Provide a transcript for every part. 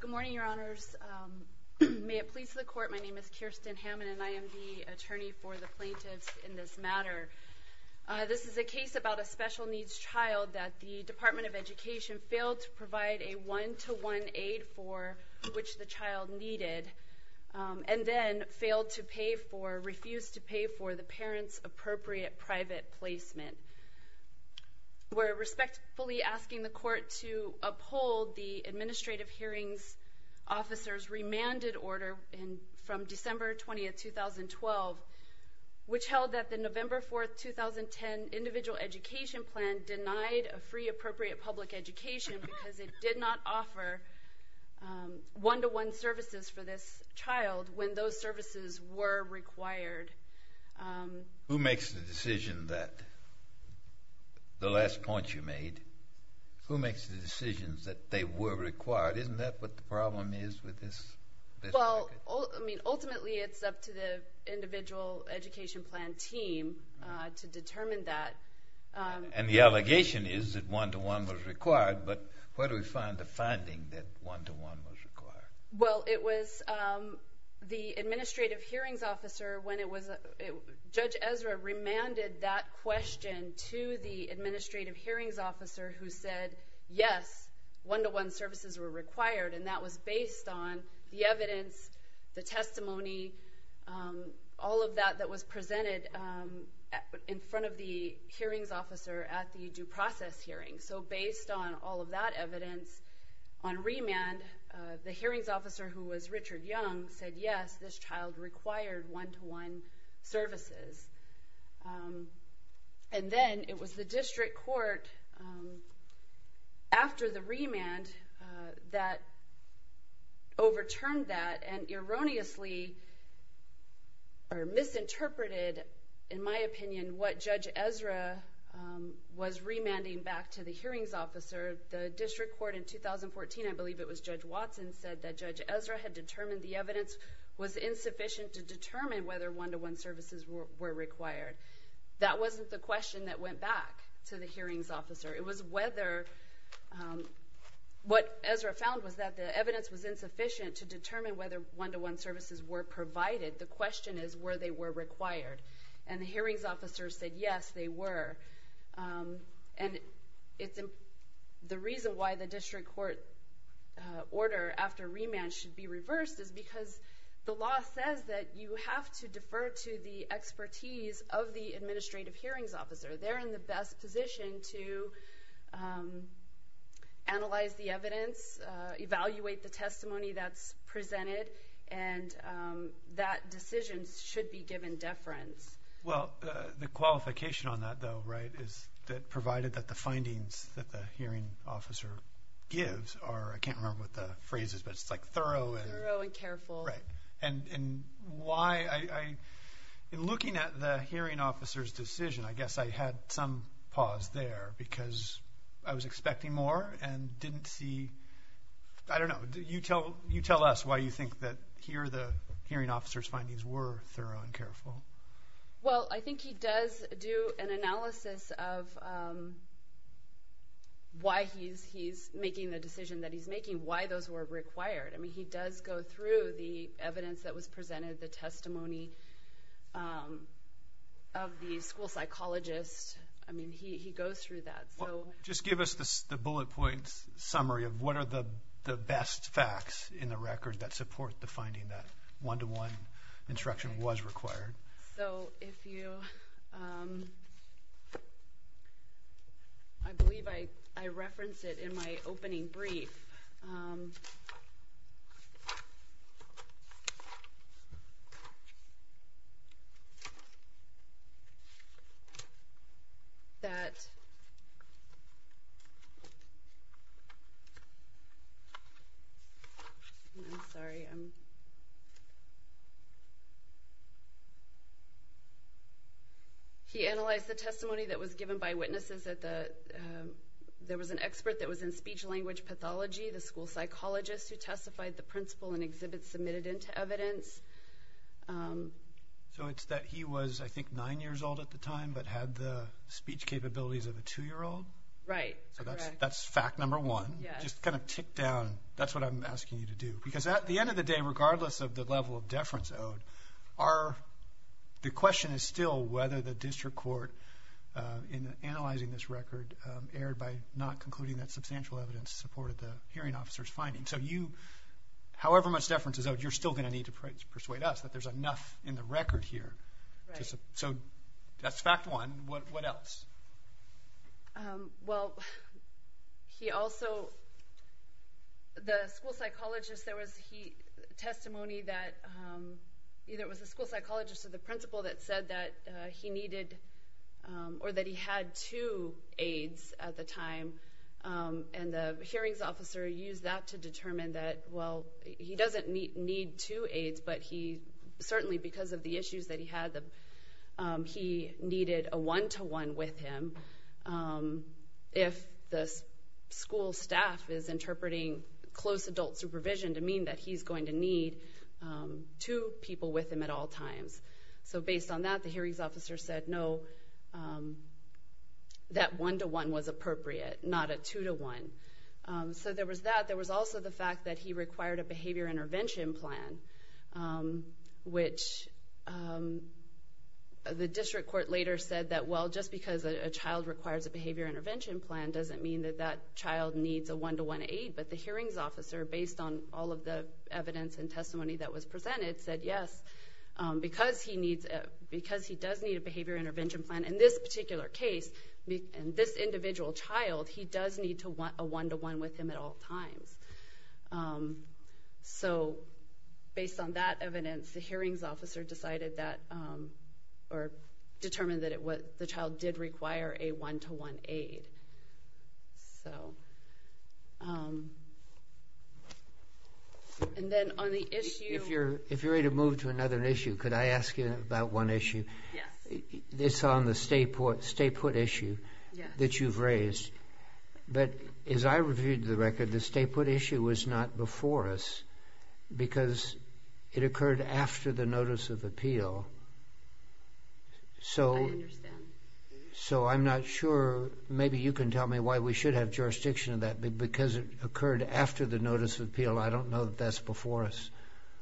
Good morning, Your Honors. May it please the Court, my name is Kirsten Hammond, and I am the attorney for the plaintiffs in this matter. This is a case about a special needs child that the Department of Education failed to provide a one-to-one aid for which the child needed, and then failed to pay for, refused to pay for, the parent's appropriate private placement. We're respectfully asking the Court to uphold the Administrative Hearings Officer's remanded order from December 20, 2012, which held that the November 4, 2010 Individual Education Plan denied a free appropriate public education because it did not offer one-to-one services for this child when those services were required. Who makes the decision that, the last point you made, who makes the decisions that they were required? Isn't that what the problem is with this? Well, I mean, ultimately it's up to the Individual Education Plan team to determine that. And the allegation is that one-to-one was required, but where do we find the finding that one-to-one was required? Well, it was the Administrative Hearings Officer when it was, Judge Ezra remanded that question to the Administrative Hearings Officer who said, yes, one-to-one services were required, and that was based on the evidence, the testimony, all of that that was presented in front of the hearings officer at the due process hearing. So based on all of that evidence, on remand, the hearings officer who was Richard Young said, yes, this child required one-to-one services. And then it was the District Court, after the remand, that overturned that and erroneously, or misinterpreted, in my opinion, what Judge Ezra was remanding back to the District Court, Judge Watson said that Judge Ezra had determined the evidence was insufficient to determine whether one-to-one services were required. That wasn't the question that went back to the hearings officer. It was whether, what Ezra found was that the evidence was insufficient to determine whether one-to-one services were provided. The question is, were they were required? And the hearings officer said, yes, they were. And the reason why the order after remand should be reversed is because the law says that you have to defer to the expertise of the administrative hearings officer. They're in the best position to analyze the evidence, evaluate the testimony that's presented, and that decision should be given deference. Well, the qualification on that, though, right, is that provided that the findings that the thorough and careful. Right. And why, in looking at the hearing officer's decision, I guess I had some pause there because I was expecting more and didn't see, I don't know, you tell us why you think that here the hearing officer's findings were thorough and careful. Well, I think he does do an analysis of why he's making the decision that he's making, why those were required. I mean, he does go through the evidence that was presented, the testimony of the school psychologist. I mean, he goes through that. Just give us the bullet point summary of what are the best facts in the record that support the finding that one-to-one instruction was required. So if you, I believe I referenced it in my opening brief, that, I'm sorry, I'm, he analyzed the testimony that was given by witnesses at the, there was an expert that was in speech-language pathology, the school psychologist who testified the principle and exhibits submitted into evidence. So it's that he was, I think, nine years old at the time, but had the speech capabilities of a two-year-old? Right. So that's fact number one. Yes. Just kind of ticked down, that's what I'm asking you to do. Because at the end of the day, regardless of the level of deference owed, the question is still whether the district court, in analyzing this record, erred by not concluding that substantial evidence supported the hearing officer's finding. So you, however much deference is owed, you're still going to need to persuade us that there's enough in the record here. Right. So that's fact one. What else? Well, he also, the school psychologist, there was testimony that either it was the school psychologist or the principal that said that he needed, or that he had two aids at the time, and the hearings officer used that to determine that, well, he doesn't need two he needed a one-to-one with him if the school staff is interpreting close adult supervision to mean that he's going to need two people with him at all times. So based on that, the hearings officer said, no, that one-to-one was appropriate, not a two-to-one. So there was that. There was also the fact that he required a behavior intervention plan, which the district court later said that, well, just because a child requires a behavior intervention plan doesn't mean that that child needs a one-to-one aid. But the hearings officer, based on all of the evidence and testimony that was presented, said, yes, because he does need a behavior intervention plan in this particular case, in this individual child, he does need a one-to-one with him at all times. So based on that evidence, the hearings officer decided that, or determined that the child did require a one-to-one aid. And then on the issue... If you're ready to move to another issue, could I ask you about one issue? Yes. It's on the stay-put issue that you've raised. But as I reviewed the record, the stay-put issue was not before us, because it occurred after the notice of appeal. I understand. So I'm not sure, maybe you can tell me why we should have jurisdiction of that, because it occurred after the notice of appeal. I don't know that that's before us.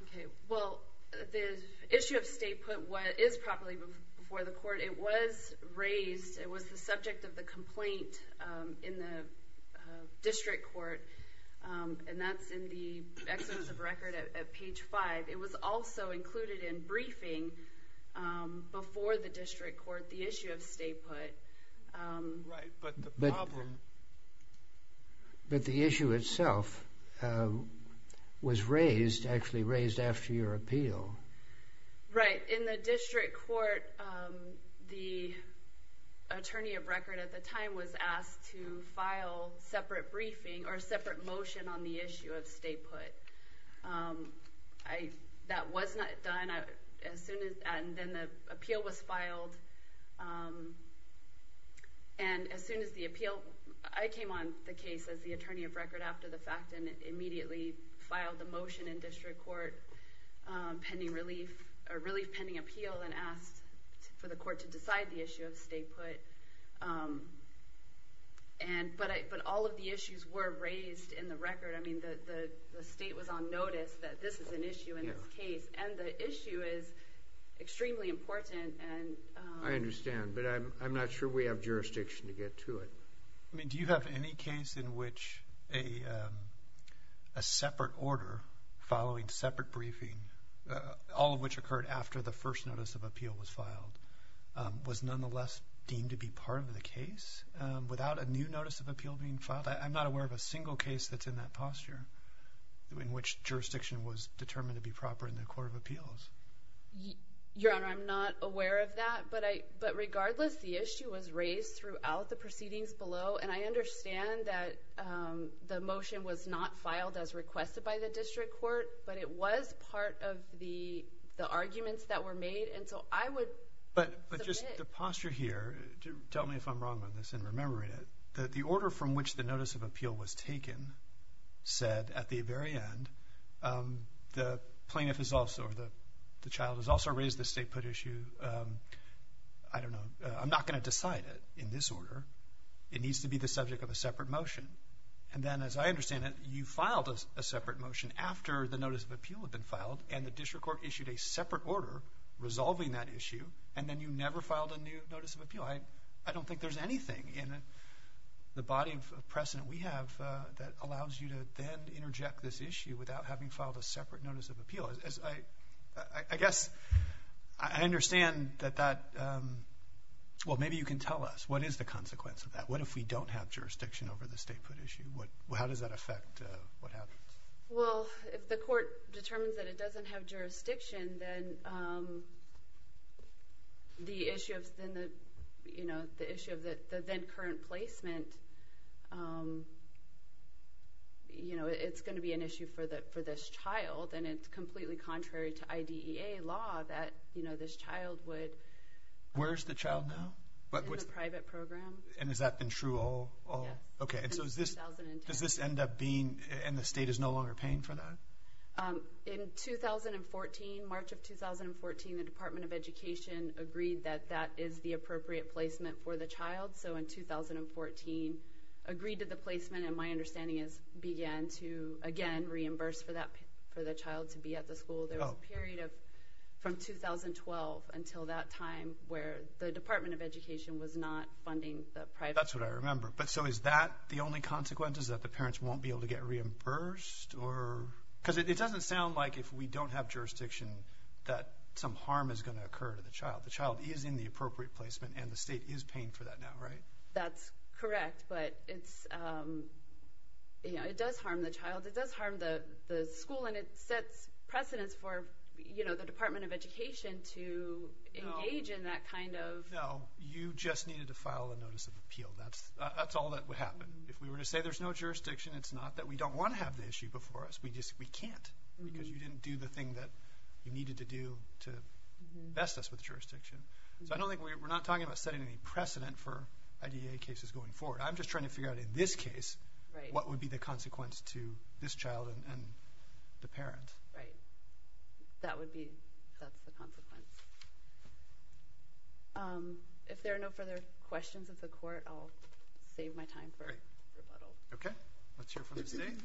Okay. Well, the issue of stay-put is properly before the court. It was raised, it was the subject of the complaint in the district court, and that's in the exodus of record at page five. It was also included in briefing before the district court, the issue of stay-put. Right, but the problem... It was actually raised after your appeal. Right. In the district court, the attorney of record at the time was asked to file separate briefing, or separate motion on the issue of stay-put. That was not done, and then the appeal was filed, and as soon as the appeal... I came on the case as the attorney of record after the fact, and immediately filed the motion in district court, a relief pending appeal, and asked for the court to decide the issue of stay-put. But all of the issues were raised in the record. I mean, the state was on notice that this is an issue in this case, and the issue is extremely important. I understand, but I'm not sure we have jurisdiction to get to it. I mean, do you have any case in which a separate order following separate briefing, all of which occurred after the first notice of appeal was filed, was nonetheless deemed to be part of the case, without a new notice of appeal being filed? I'm not aware of a single case that's in that posture, in which jurisdiction was determined to be proper in the court of appeals. Your Honor, I'm not aware of that, but regardless, the issue was raised throughout the proceedings below, and I understand that the motion was not filed as requested by the district court, but it was part of the arguments that were made, and so I would submit... But just the posture here, tell me if I'm wrong on this and remember it, that the order from which the notice of appeal was taken said at the very end, the plaintiff has also, or the child has also raised the stay-put issue. I don't know. I'm not going to decide it in this order. It needs to be the subject of a separate motion. And then, as I understand it, you filed a separate motion after the notice of appeal had been filed, and the district court issued a separate order resolving that issue, and then you never filed a new notice of appeal. I don't think there's anything in the body of precedent we have that allows you to then interject this issue without having filed a separate notice of appeal. I guess I understand that that... Well, maybe you can tell us. What is the consequence of that? What if we don't have jurisdiction over the stay-put issue? How does that affect what happens? Well, if the court determines that it doesn't have jurisdiction, then the issue of the then current placement, you know, it's going to be an issue for this child, and it's completely contrary to IDEA law that, you know, this child would... Where is the child now? In the private program. And has that been true all... Yeah. Okay, and so is this... Since 2010. Does this end up being, and the state is no longer paying for that? In 2014, March of 2014, the Department of Education agreed that that is the appropriate placement for the child. So in 2014, agreed to the placement, and my understanding is began to, again, reimburse for the child to be at the school. There was a period of, from 2012 until that time, where the Department of Education was not funding the private... That's what I remember. But so is that the only consequence, is that the parents won't be able to get reimbursed, or... Because it doesn't sound like if we don't have jurisdiction that some harm is going to occur to the child. The child is in the appropriate placement, and the state is paying for that now, right? That's correct, but it's, you know, it does harm the child. It does harm the school, and it sets precedents for, you know, the Department of Education to engage in that kind of... No, you just needed to file a notice of appeal. That's all that would happen. If we were to say there's no jurisdiction, it's not that we don't want to have the issue before us. We just, we can't, because you didn't do the thing that you needed to do to best us with jurisdiction. So I don't think we're not talking about setting any precedent for IDA cases going forward. I'm just trying to figure out, in this case, what would be the consequence to this child and the parent. Right. That would be, that's the consequence. If there are no further questions of the court, I'll save my time for rebuttal. Okay. Let's hear from the state.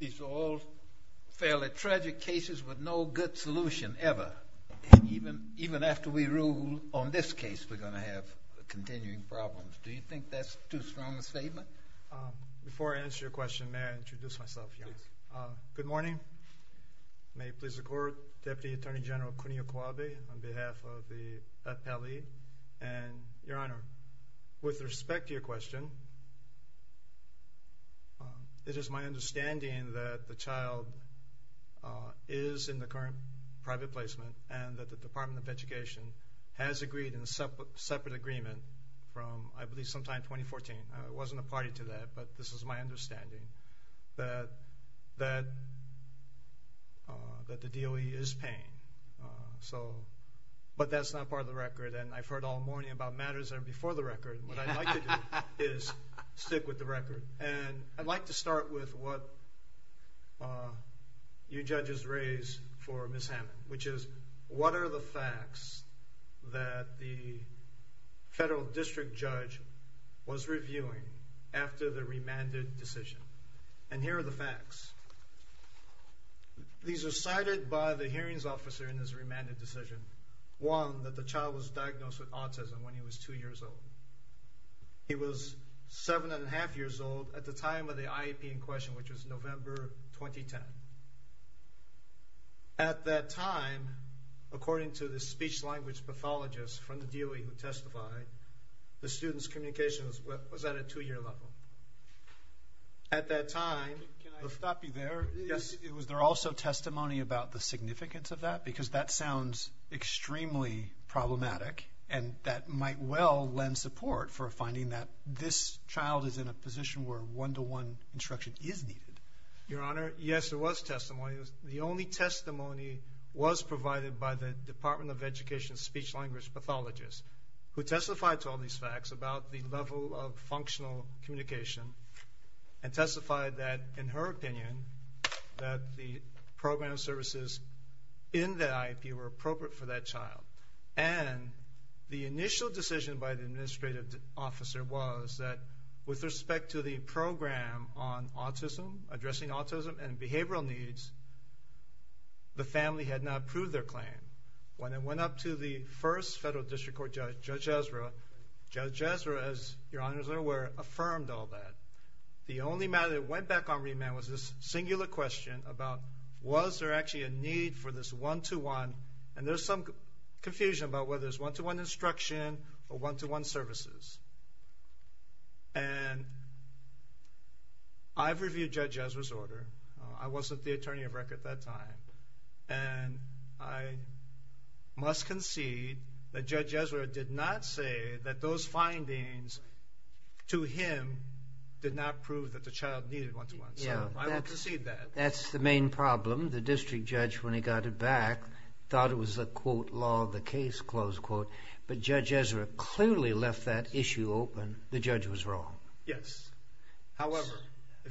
These are all fairly tragic cases with no good solution ever. Even after we rule on this case, we're going to have continuing problems. Do you think that's too strong a statement? Before I answer your question, may I introduce myself? Yes. Good morning. May it please the staff of the appellee. And your honor, with respect to your question, it is my understanding that the child is in the current private placement and that the Department of Education has agreed in a separate agreement from, I believe, sometime 2014. I wasn't a party to that, but this is my understanding, that the DOE is paying. But that's not part of the record, and I've heard all morning about matters that are before the record. What I'd like to do is stick with the record. And I'd like to start with what you judges raise for Ms. Hammond, which is, what are the facts that the federal district judge was reviewing after the remanded decision? And here are the facts. These are cited by the hearings officer in his remanded decision. One, that the child was diagnosed with autism when he was two years old. He was seven and a half years old at the time of the IEP in question, which was November 2010. At that time, according to the speech-language pathologist from the DOE who testified, the student's communication was at a two-year level. At that time... Can I stop you there? Yes. Was there also testimony about the significance of that? Because that sounds extremely problematic and that might well lend support for finding that this child is in a position where one-to-one instruction is needed. Your Honor, yes, there was testimony. The only testimony was provided by the Department of Education speech-language pathologist, who testified to all these facts about the level of functional communication and testified that, in her opinion, that the program services in the IEP were appropriate for that child. And the initial decision by the administrative officer was that, with respect to the program on autism, addressing autism and behavioral needs, the family had not approved their claim. When it went up to the first federal district court judge, Judge Ezra, Judge Ezra, as Your Honor is aware, affirmed all that. The only matter that went back on remand was this singular question about, was there actually a need for this one-to-one, and there's some confusion about whether it's one-to-one instruction or one-to-one services. And I've reviewed Judge Ezra's order. I wasn't the attorney of record at that time. And I must concede that Judge Ezra did not say that those findings, to him, did not prove that the child needed one-to-one. So I will concede that. That's the main problem. The district judge, when he got it back, thought it was a, quote, law of the case, close quote. But Judge Ezra clearly left that issue open. The judge was wrong. Yes. However...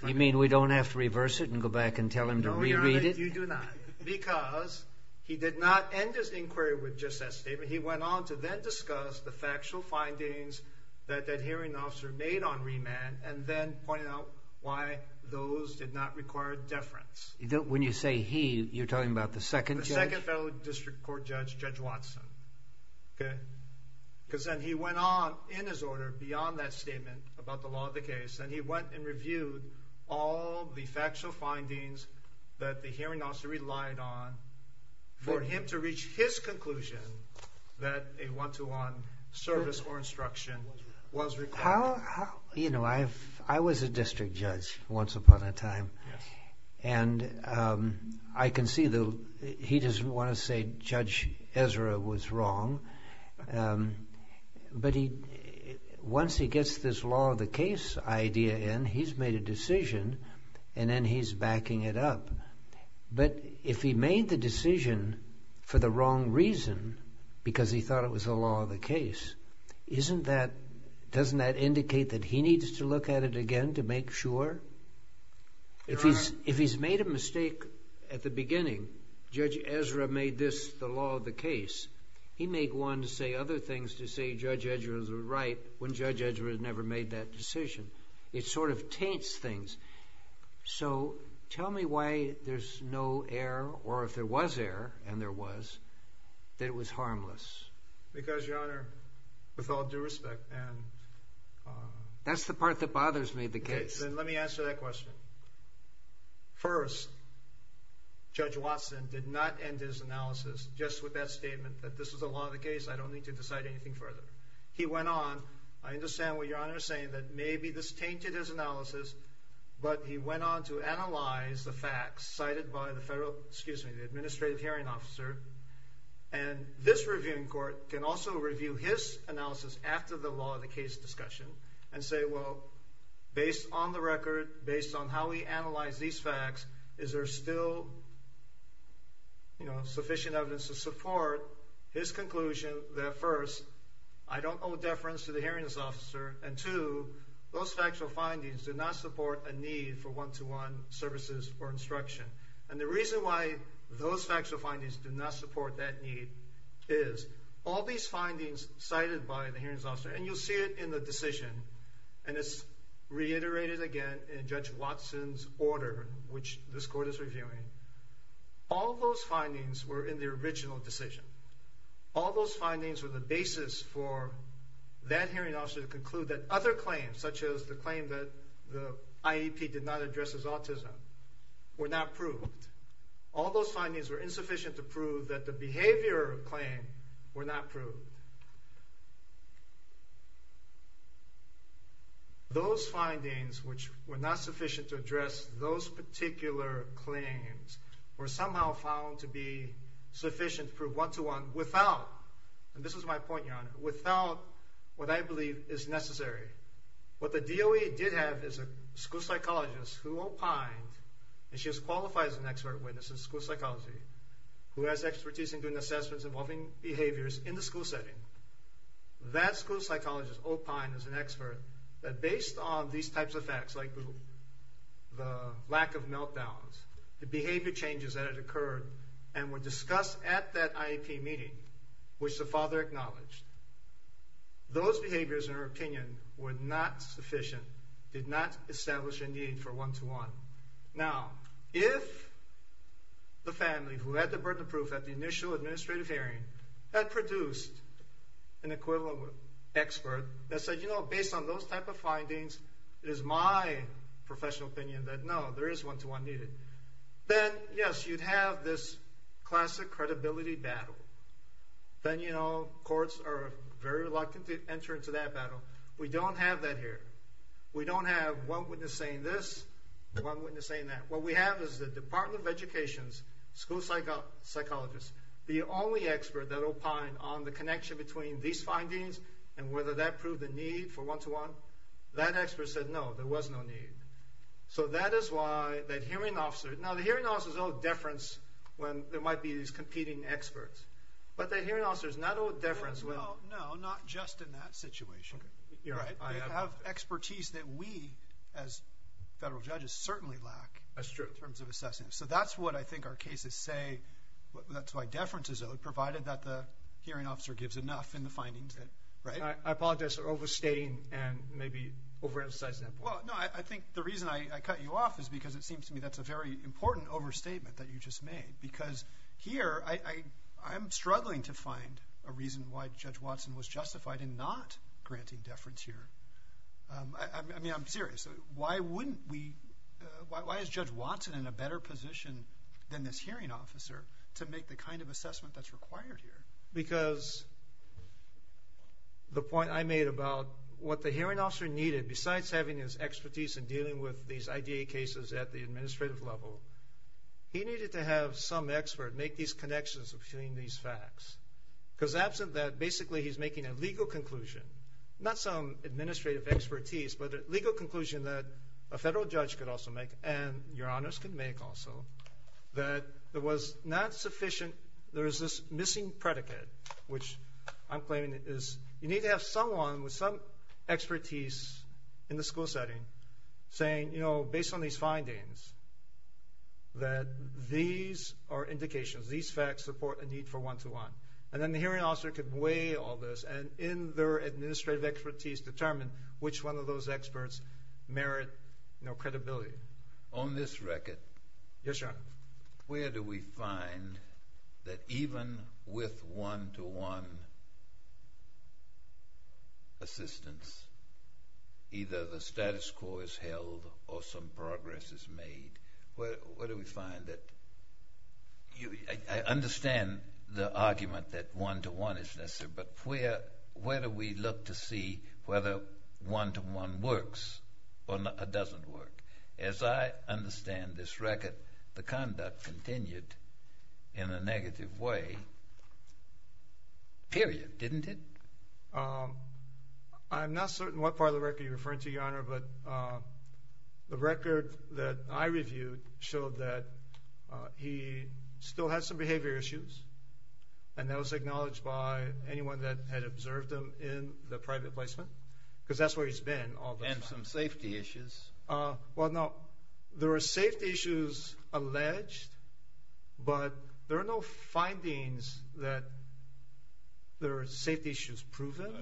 You mean we don't have to reverse it and go back and tell him to re-read it? No, Your Honor, you do not. Because he did not end his inquiry with just that statement. He went on to then discuss the factual findings that that hearing officer made on remand, and then pointed out why those findings did not require deference. When you say he, you're talking about the second judge? The second federal district court judge, Judge Watson. Okay. Because then he went on, in his order, beyond that statement about the law of the case, and he went and reviewed all the factual findings that the hearing officer relied on for him to reach his conclusion that a one-to-one service or instruction was required. How, you know, I was a district judge once upon a time. Yes. And I can see that he doesn't want to say Judge Ezra was wrong. But once he gets this law of the case idea in, he's made a decision, and then he's backing it up. But if he made the decision for the wrong reason, because he thought it was the law of the case, isn't that, doesn't that indicate that he needs to look at it again to make sure? If he's made a mistake at the beginning, Judge Ezra made this the law of the case, he may go on to say other things to say Judge Ezra was right when Judge Ezra had never made that decision. It sort of taints things. So tell me why there's no error, or if there was error, and there was, that it was harmless. Because, Your Honor, with all due respect, and... That's the part that bothers me, the case. Okay, then let me answer that question. First, Judge Watson did not end his analysis just with that statement that this is the law of the case, I don't need to decide anything further. He went on, I understand what Your Honor is saying, that maybe this tainted his analysis, but he went on to analyze the facts cited by the federal, excuse me, the administrative hearing officer, and this reviewing court can also review his analysis after the law of the case discussion and say, well, based on the record, based on how we analyze these facts, is there still, you know, sufficient evidence to support his conclusion that first, I don't owe deference to the hearing officer, and two, those factual findings do not support a need for one-to-one services or instruction. And the reason why those factual findings do not support that need is, all these findings cited by the hearings officer, and you'll see it in the decision, and it's reiterated again in Judge Watson's order, which this court is reviewing, all those findings were in the original decision. All those findings were the basis for that hearing officer to conclude that other claims, such as the claim that the IEP did not address autism, were not proved. All those findings were insufficient to prove that the behavior claim were not proved. Those findings, which were not sufficient to address those particular claims, were somehow found to be sufficient to prove one-to-one without, and this is my point, Your Honor, without what I believe is necessary. What the DOE did have is a school psychologist who opined, and she is qualified as an expert witness in school psychology, who has expertise in doing assessments involving behaviors in the school setting. That school psychologist opined as an expert that based on these types of facts, like the lack of meltdowns, the behavior changes that had occurred and were discussed at that IEP meeting, which the father acknowledged, those behaviors, in her opinion, were not sufficient, did not establish a need for one-to-one. Now, if the family who had the burden of proof at the initial administrative hearing had produced an equivalent expert that said, you know, based on those type of findings, it is my professional opinion that, no, there is one-to-one needed, then, yes, you'd have this classic credibility battle. Then, you know, courts are very reluctant to enter into that battle. We don't have that here. We don't have one witness saying this, one witness saying that. What we have is the Department of Education's school psychologist, the only expert that opined on the connection between these findings and whether that proved a need for one-to-one. That expert said, no, there was no need. So that is why that hearing officer, now the hearing officer is owed deference when there Well, no, not just in that situation. I have expertise that we, as federal judges, certainly lack in terms of assessing. So that's what I think our cases say, that's why deference is owed, provided that the hearing officer gives enough in the findings. I apologize for overstating and maybe overemphasizing that point. Well, no, I think the reason I cut you off is because it seems to me that's a very important overstatement that you just made. Because here, I'm struggling to find a reason why Judge Watson was justified in not granting deference here. I mean, I'm serious. Why wouldn't we, why is Judge Watson in a better position than this hearing officer to make the kind of assessment that's required here? Because the point I made about what the hearing officer needed, besides having his expertise in dealing with these IDA cases at the administrative level, he needed to have some expert make these connections between these facts. Because absent that, basically he's making a legal conclusion, not some administrative expertise, but a legal conclusion that a federal judge could also make, and your honors could make also, that there was not sufficient, there is this missing predicate, which I'm claiming is, you need to have someone with some expertise in the school setting, saying, you know, based on these findings, that these are indications, these facts support a need for one-to-one. And then the hearing officer could weigh all this, and in their administrative expertise, determine which one of those experts merit credibility. On this record, where do we find that even with one-to-one assistance, either the status quo is held or some progress is made, where do we find that? I understand the argument that one-to-one is necessary, but where do we look to see whether one-to-one works or doesn't work? As I understand this record, the conduct continued in a negative way, period, didn't it? I'm not certain what part of the record you're referring to, your honor, but the record that I reviewed showed that he still had some behavior issues, and that was acknowledged by anyone that had observed him in the private placement, because that's where he's been all this time. And some safety issues. Well, no, there are safety issues alleged, but there are no findings that there are safety issues proven.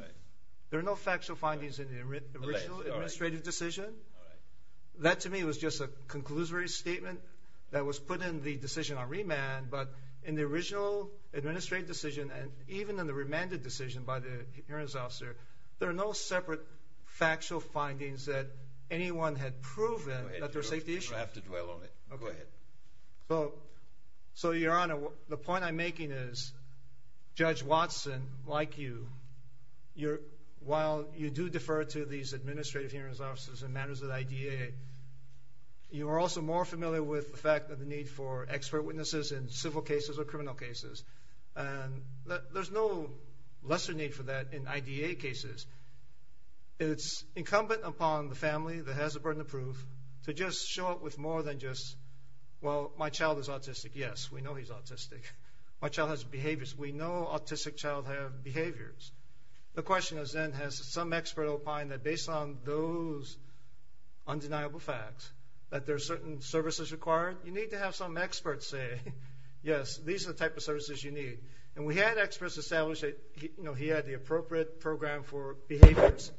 There are no factual findings in the original administrative decision. That to me was just a conclusory statement that was put in the decision on remand, but in the original administrative decision, and even in the remanded decision by the hearings officer, there are no separate factual findings that anyone had proven that there are safety issues. You don't have to dwell on it. Go ahead. So, your honor, the point I'm making is, Judge Watson, like you, while you do defer to these administrative hearings officers in matters of the IDA, you are also more familiar with the fact of the need for expert witnesses in civil cases or criminal cases. There's no lesser need for that in IDA cases. It's incumbent upon the family that has a burden of proof to just show up with more than just, well, my child is autistic. Yes, we know he's autistic. My child has behaviors. We know autistic child have behaviors. The question is then, has some expert opined that based on those undeniable facts, that there are certain services required? You need to have some experts say, yes, these are the type of services you need. And we had experts establish that he had the appropriate program to address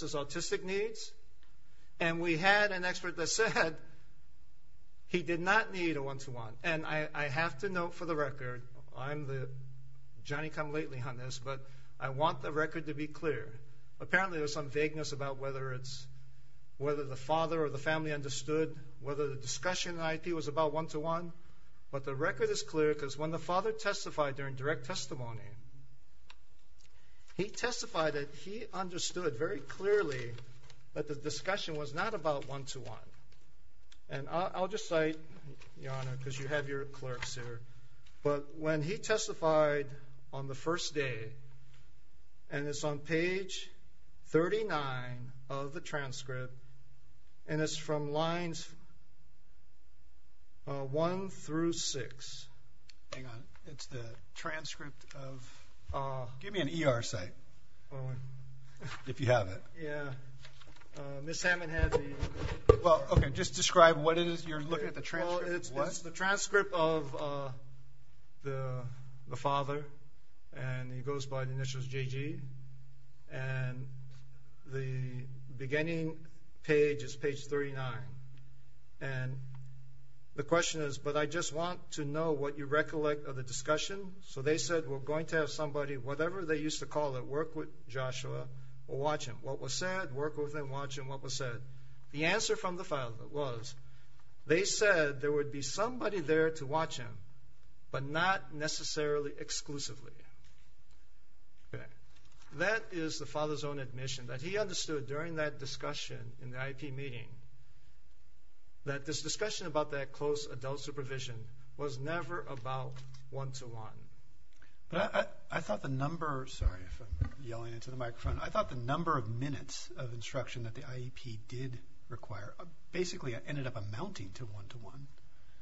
his autistic needs, and we had an expert that said he did not need a one-to-one. And I have to note for the record, I'm the Johnny-come-lately on this, but I want the record to be clear. Apparently, there was some vagueness about whether the father or the family understood whether the discussion in IP was about one-to-one. But the record is clear because when the father testified during direct testimony, he testified that he understood very clearly that the discussion was not about one-to-one. And I'll just cite, Your Honor, because you have your clerks here. But when he testified on the first day, and it's on page 39 of the transcript, and it's from lines 1 through 6. Hang on. It's the transcript of... Give me an ER site, if you have it. Yeah. Ms. Hammond had the... Well, okay, just describe what it is. You're looking at the transcript of what? Well, it's the transcript of the father, and it goes by the initials JG. And the beginning page is page 39. And the question is, but I just want to know what you recollect of the discussion. So they said, we're going to have somebody, whatever they used to call it, work with Joshua or watch him. What was said, work with him, watch him, what was said. The answer from the father was, they said there would be somebody there to watch him, but not necessarily exclusively. Okay. That is the father's own admission, that he understood during that discussion in the IEP meeting, that this discussion about that close adult supervision was never about one-to-one. But I thought the number... Sorry if I'm yelling into the microphone. I thought the number of minutes of instruction that the IEP did require basically ended up amounting to one-to-one.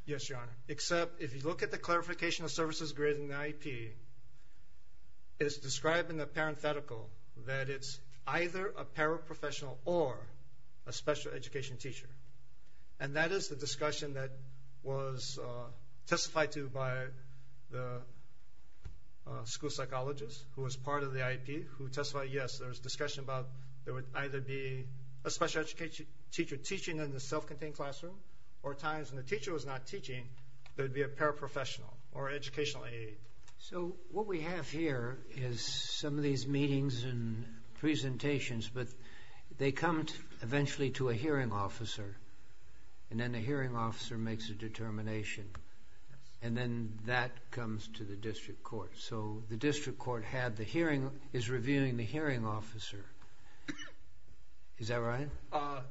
Yes, Your Honor. Except if you look at the clarification of services granted in the IEP, it's described in the parenthetical that it's either a paraprofessional or a special education teacher. And that is the discussion that was testified to by the school psychologist who was part of the IEP who testified, yes, there was discussion about there would either be a special education teacher teaching in the self-contained classroom, or at times when the teacher was not teaching, there would be a paraprofessional or educational aide. So what we have here is some of these meetings and presentations, but they come eventually to a hearing officer, and then the hearing officer makes a determination, and then that comes to the district court. So the district court is reviewing the hearing officer. Is that right?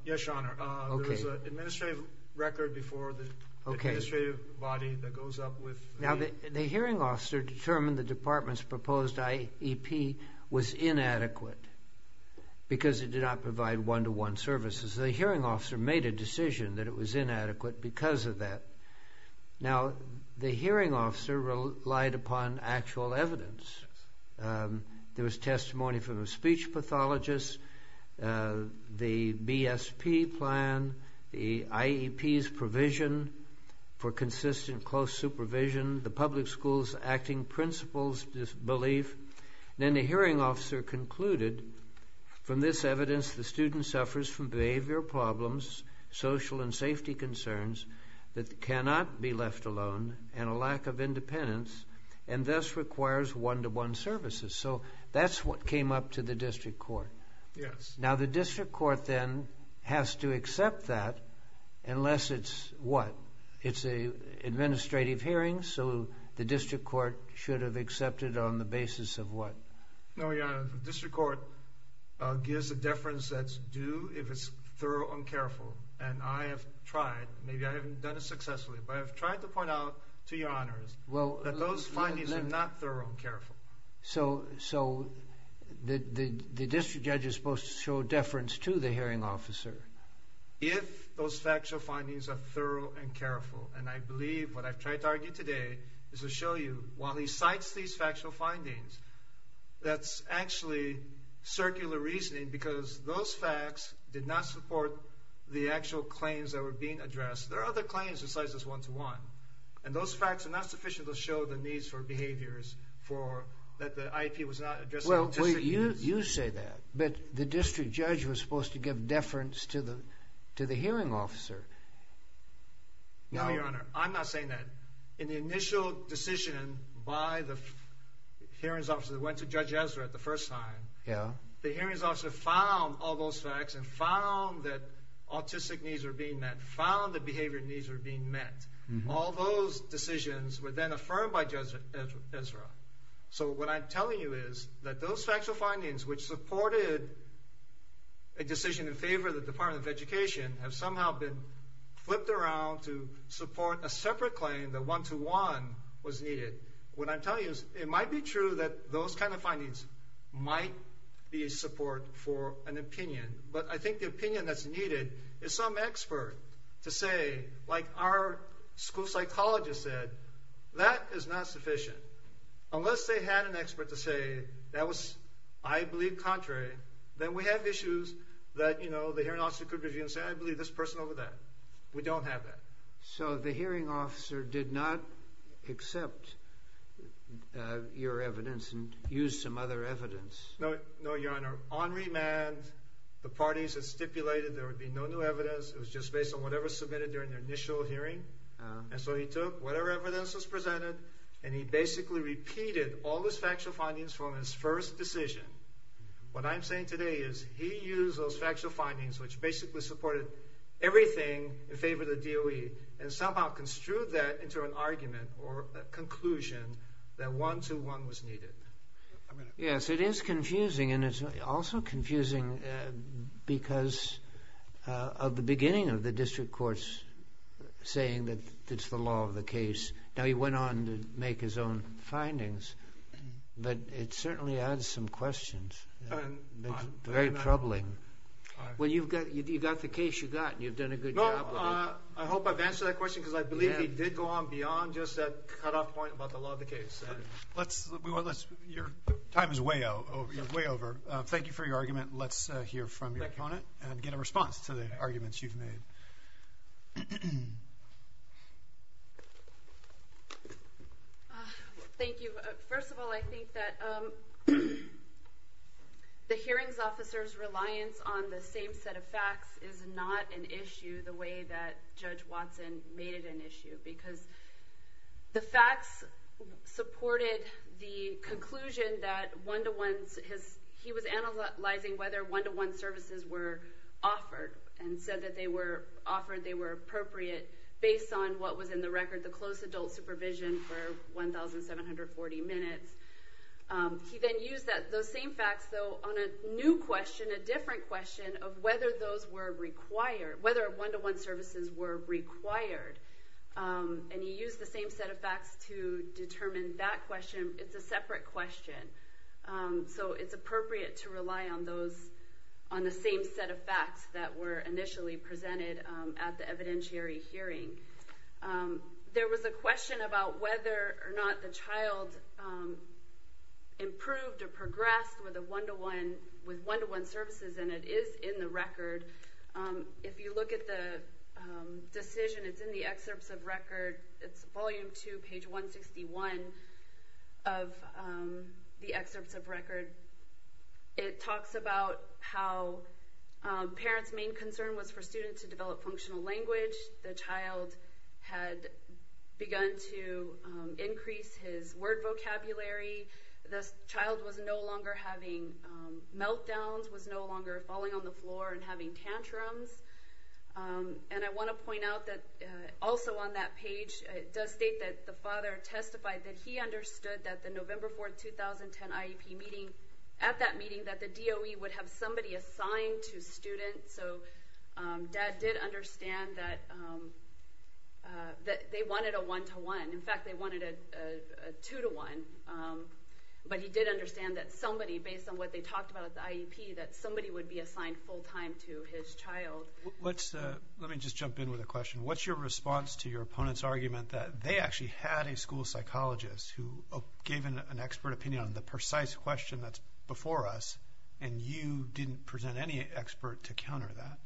Yes, Your Honor. There was an administrative record before the administrative body that goes up with the… Now, the hearing officer determined the department's proposed IEP was inadequate because it did not provide one-to-one services. The hearing officer made a decision that it was inadequate because of that. Now, the hearing officer relied upon actual evidence. There was testimony from a speech pathologist, the BSP plan, the IEP's provision for consistent close supervision, the public school's acting principals' belief. Then the hearing officer concluded, from this evidence, the student suffers from behavior problems, social and safety concerns that cannot be left alone, and a lack of independence, and thus requires one-to-one services. So that's what came up to the district court. Yes. Now, the district court then has to accept that unless it's what? It's an administrative hearing, so the district court should have accepted on the basis of what? No, Your Honor. The district court gives a deference that's due if it's thorough and careful, and I have tried. Maybe I haven't done it successfully, but I have tried to point out to Your Honors that those findings are not thorough and careful. So the district judge is supposed to show deference to the hearing officer? If those factual findings are thorough and careful, and I believe what I've tried to argue today is to show you while he cites these factual findings, that's actually circular reasoning because those facts did not support the actual claims that were being addressed. There are other claims besides this one-to-one, and those facts are not sufficient to show the needs for behaviors that the IEP was not addressing. Well, you say that, but the district judge was supposed to give deference to the hearing officer. No, Your Honor. I'm not saying that. In the initial decision by the hearings officer that went to Judge Ezra the first time, the hearings officer found all those facts and found that autistic needs were being met, and found that behavior needs were being met. All those decisions were then affirmed by Judge Ezra. So what I'm telling you is that those factual findings which supported a decision in favor of the Department of Education have somehow been flipped around to support a separate claim that one-to-one was needed. What I'm telling you is it might be true that those kind of findings might be a support for an opinion, but I think the opinion that's needed is some expert to say, like our school psychologist said, that is not sufficient. Unless they had an expert to say, that was, I believe, contrary, then we have issues that the hearing officer could review and say, I believe this person over that. We don't have that. So the hearing officer did not accept your evidence and use some other evidence. No, Your Honor. On remand, the parties had stipulated there would be no new evidence. It was just based on whatever was submitted during the initial hearing. And so he took whatever evidence was presented, and he basically repeated all his factual findings from his first decision. What I'm saying today is he used those factual findings, which basically supported everything in favor of the DOE, and somehow construed that into an argument or a conclusion that one-to-one was needed. Yes, it is confusing, and it's also confusing because of the beginning of the district courts saying that it's the law of the case. Now he went on to make his own findings, but it certainly adds some questions. It's very troubling. Well, you've got the case you've got, and you've done a good job of it. I hope I've answered that question, because I believe he did go on beyond just that cutoff point about the law of the case. Your time is way over. Thank you for your argument. Let's hear from your opponent and get a response to the arguments you've made. Thank you. First of all, I think that the hearings officer's reliance on the same set of facts is not an issue the way that Judge Watson made it an issue, because the facts supported the conclusion that he was analyzing whether one-to-one services were offered and said that they were appropriate based on what was in the record, the close adult supervision for 1,740 minutes. He then used those same facts, though, on a new question, a different question of whether one-to-one services were required. And he used the same set of facts to determine that question. It's a separate question, so it's appropriate to rely on the same set of facts that were initially presented at the evidentiary hearing. There was a question about whether or not the child improved or progressed with one-to-one services, and it is in the record. If you look at the decision, it's in the excerpts of record. It's volume 2, page 161 of the excerpts of record. It talks about how parents' main concern was for students to develop functional language. The child had begun to increase his word vocabulary. The child was no longer having meltdowns, was no longer falling on the floor and having tantrums. And I want to point out that also on that page, it does state that the father testified that he understood that the November 4, 2010 IEP meeting, at that meeting, that the DOE would have somebody assigned to students, so Dad did understand that they wanted a one-to-one. In fact, they wanted a two-to-one. But he did understand that somebody, based on what they talked about at the IEP, that somebody would be assigned full-time to his child. Let me just jump in with a question. What's your response to your opponent's argument that they actually had a school psychologist who gave an expert opinion on the precise question that's before us, and you didn't present any expert to counter that?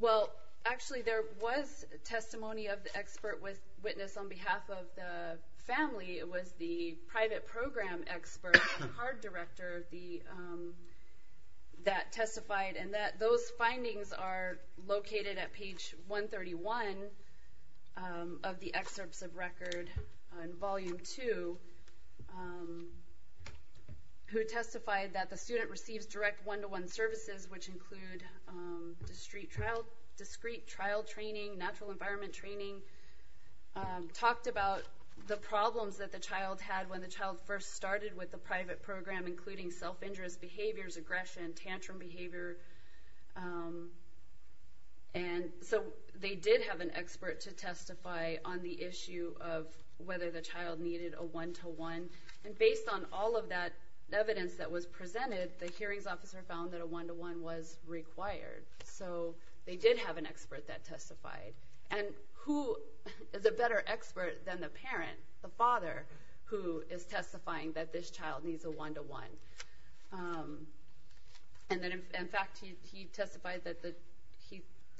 Well, actually, there was testimony of the expert witness on behalf of the family. It was the private program expert, the card director, that testified, and those findings are located at page 131 of the excerpts of record in Volume 2, who testified that the student receives direct one-to-one services, which include discrete trial training, natural environment training, talked about the problems that the child had when the child first started with the private program, including self-injurious behaviors, aggression, tantrum behavior. And so they did have an expert to testify on the issue of whether the child needed a one-to-one, and based on all of that evidence that was presented, the hearings officer found that a one-to-one was required. So they did have an expert that testified. And who is a better expert than the parent, the father, who is testifying that this child needs a one-to-one? And in fact, he testified that the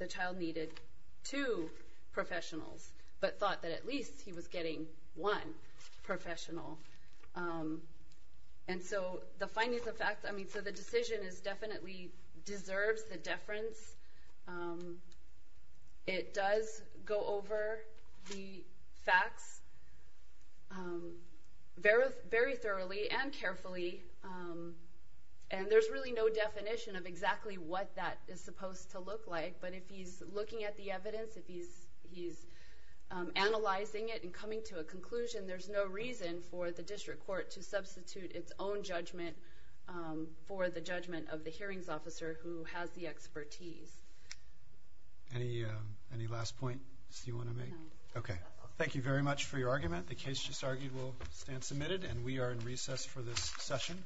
child needed two professionals, but thought that at least he was getting one professional. And so the findings of facts, I mean, so the decision definitely deserves the deference. It does go over the facts very thoroughly and carefully, and there's really no definition of exactly what that is supposed to look like. But if he's looking at the evidence, if he's analyzing it and coming to a conclusion, there's no reason for the district court to substitute its own judgment for the judgment of the hearings officer who has the expertise. Any last points you want to make? No. Okay. Thank you very much for your argument. The case just argued will stand submitted, and we are in recess for this session.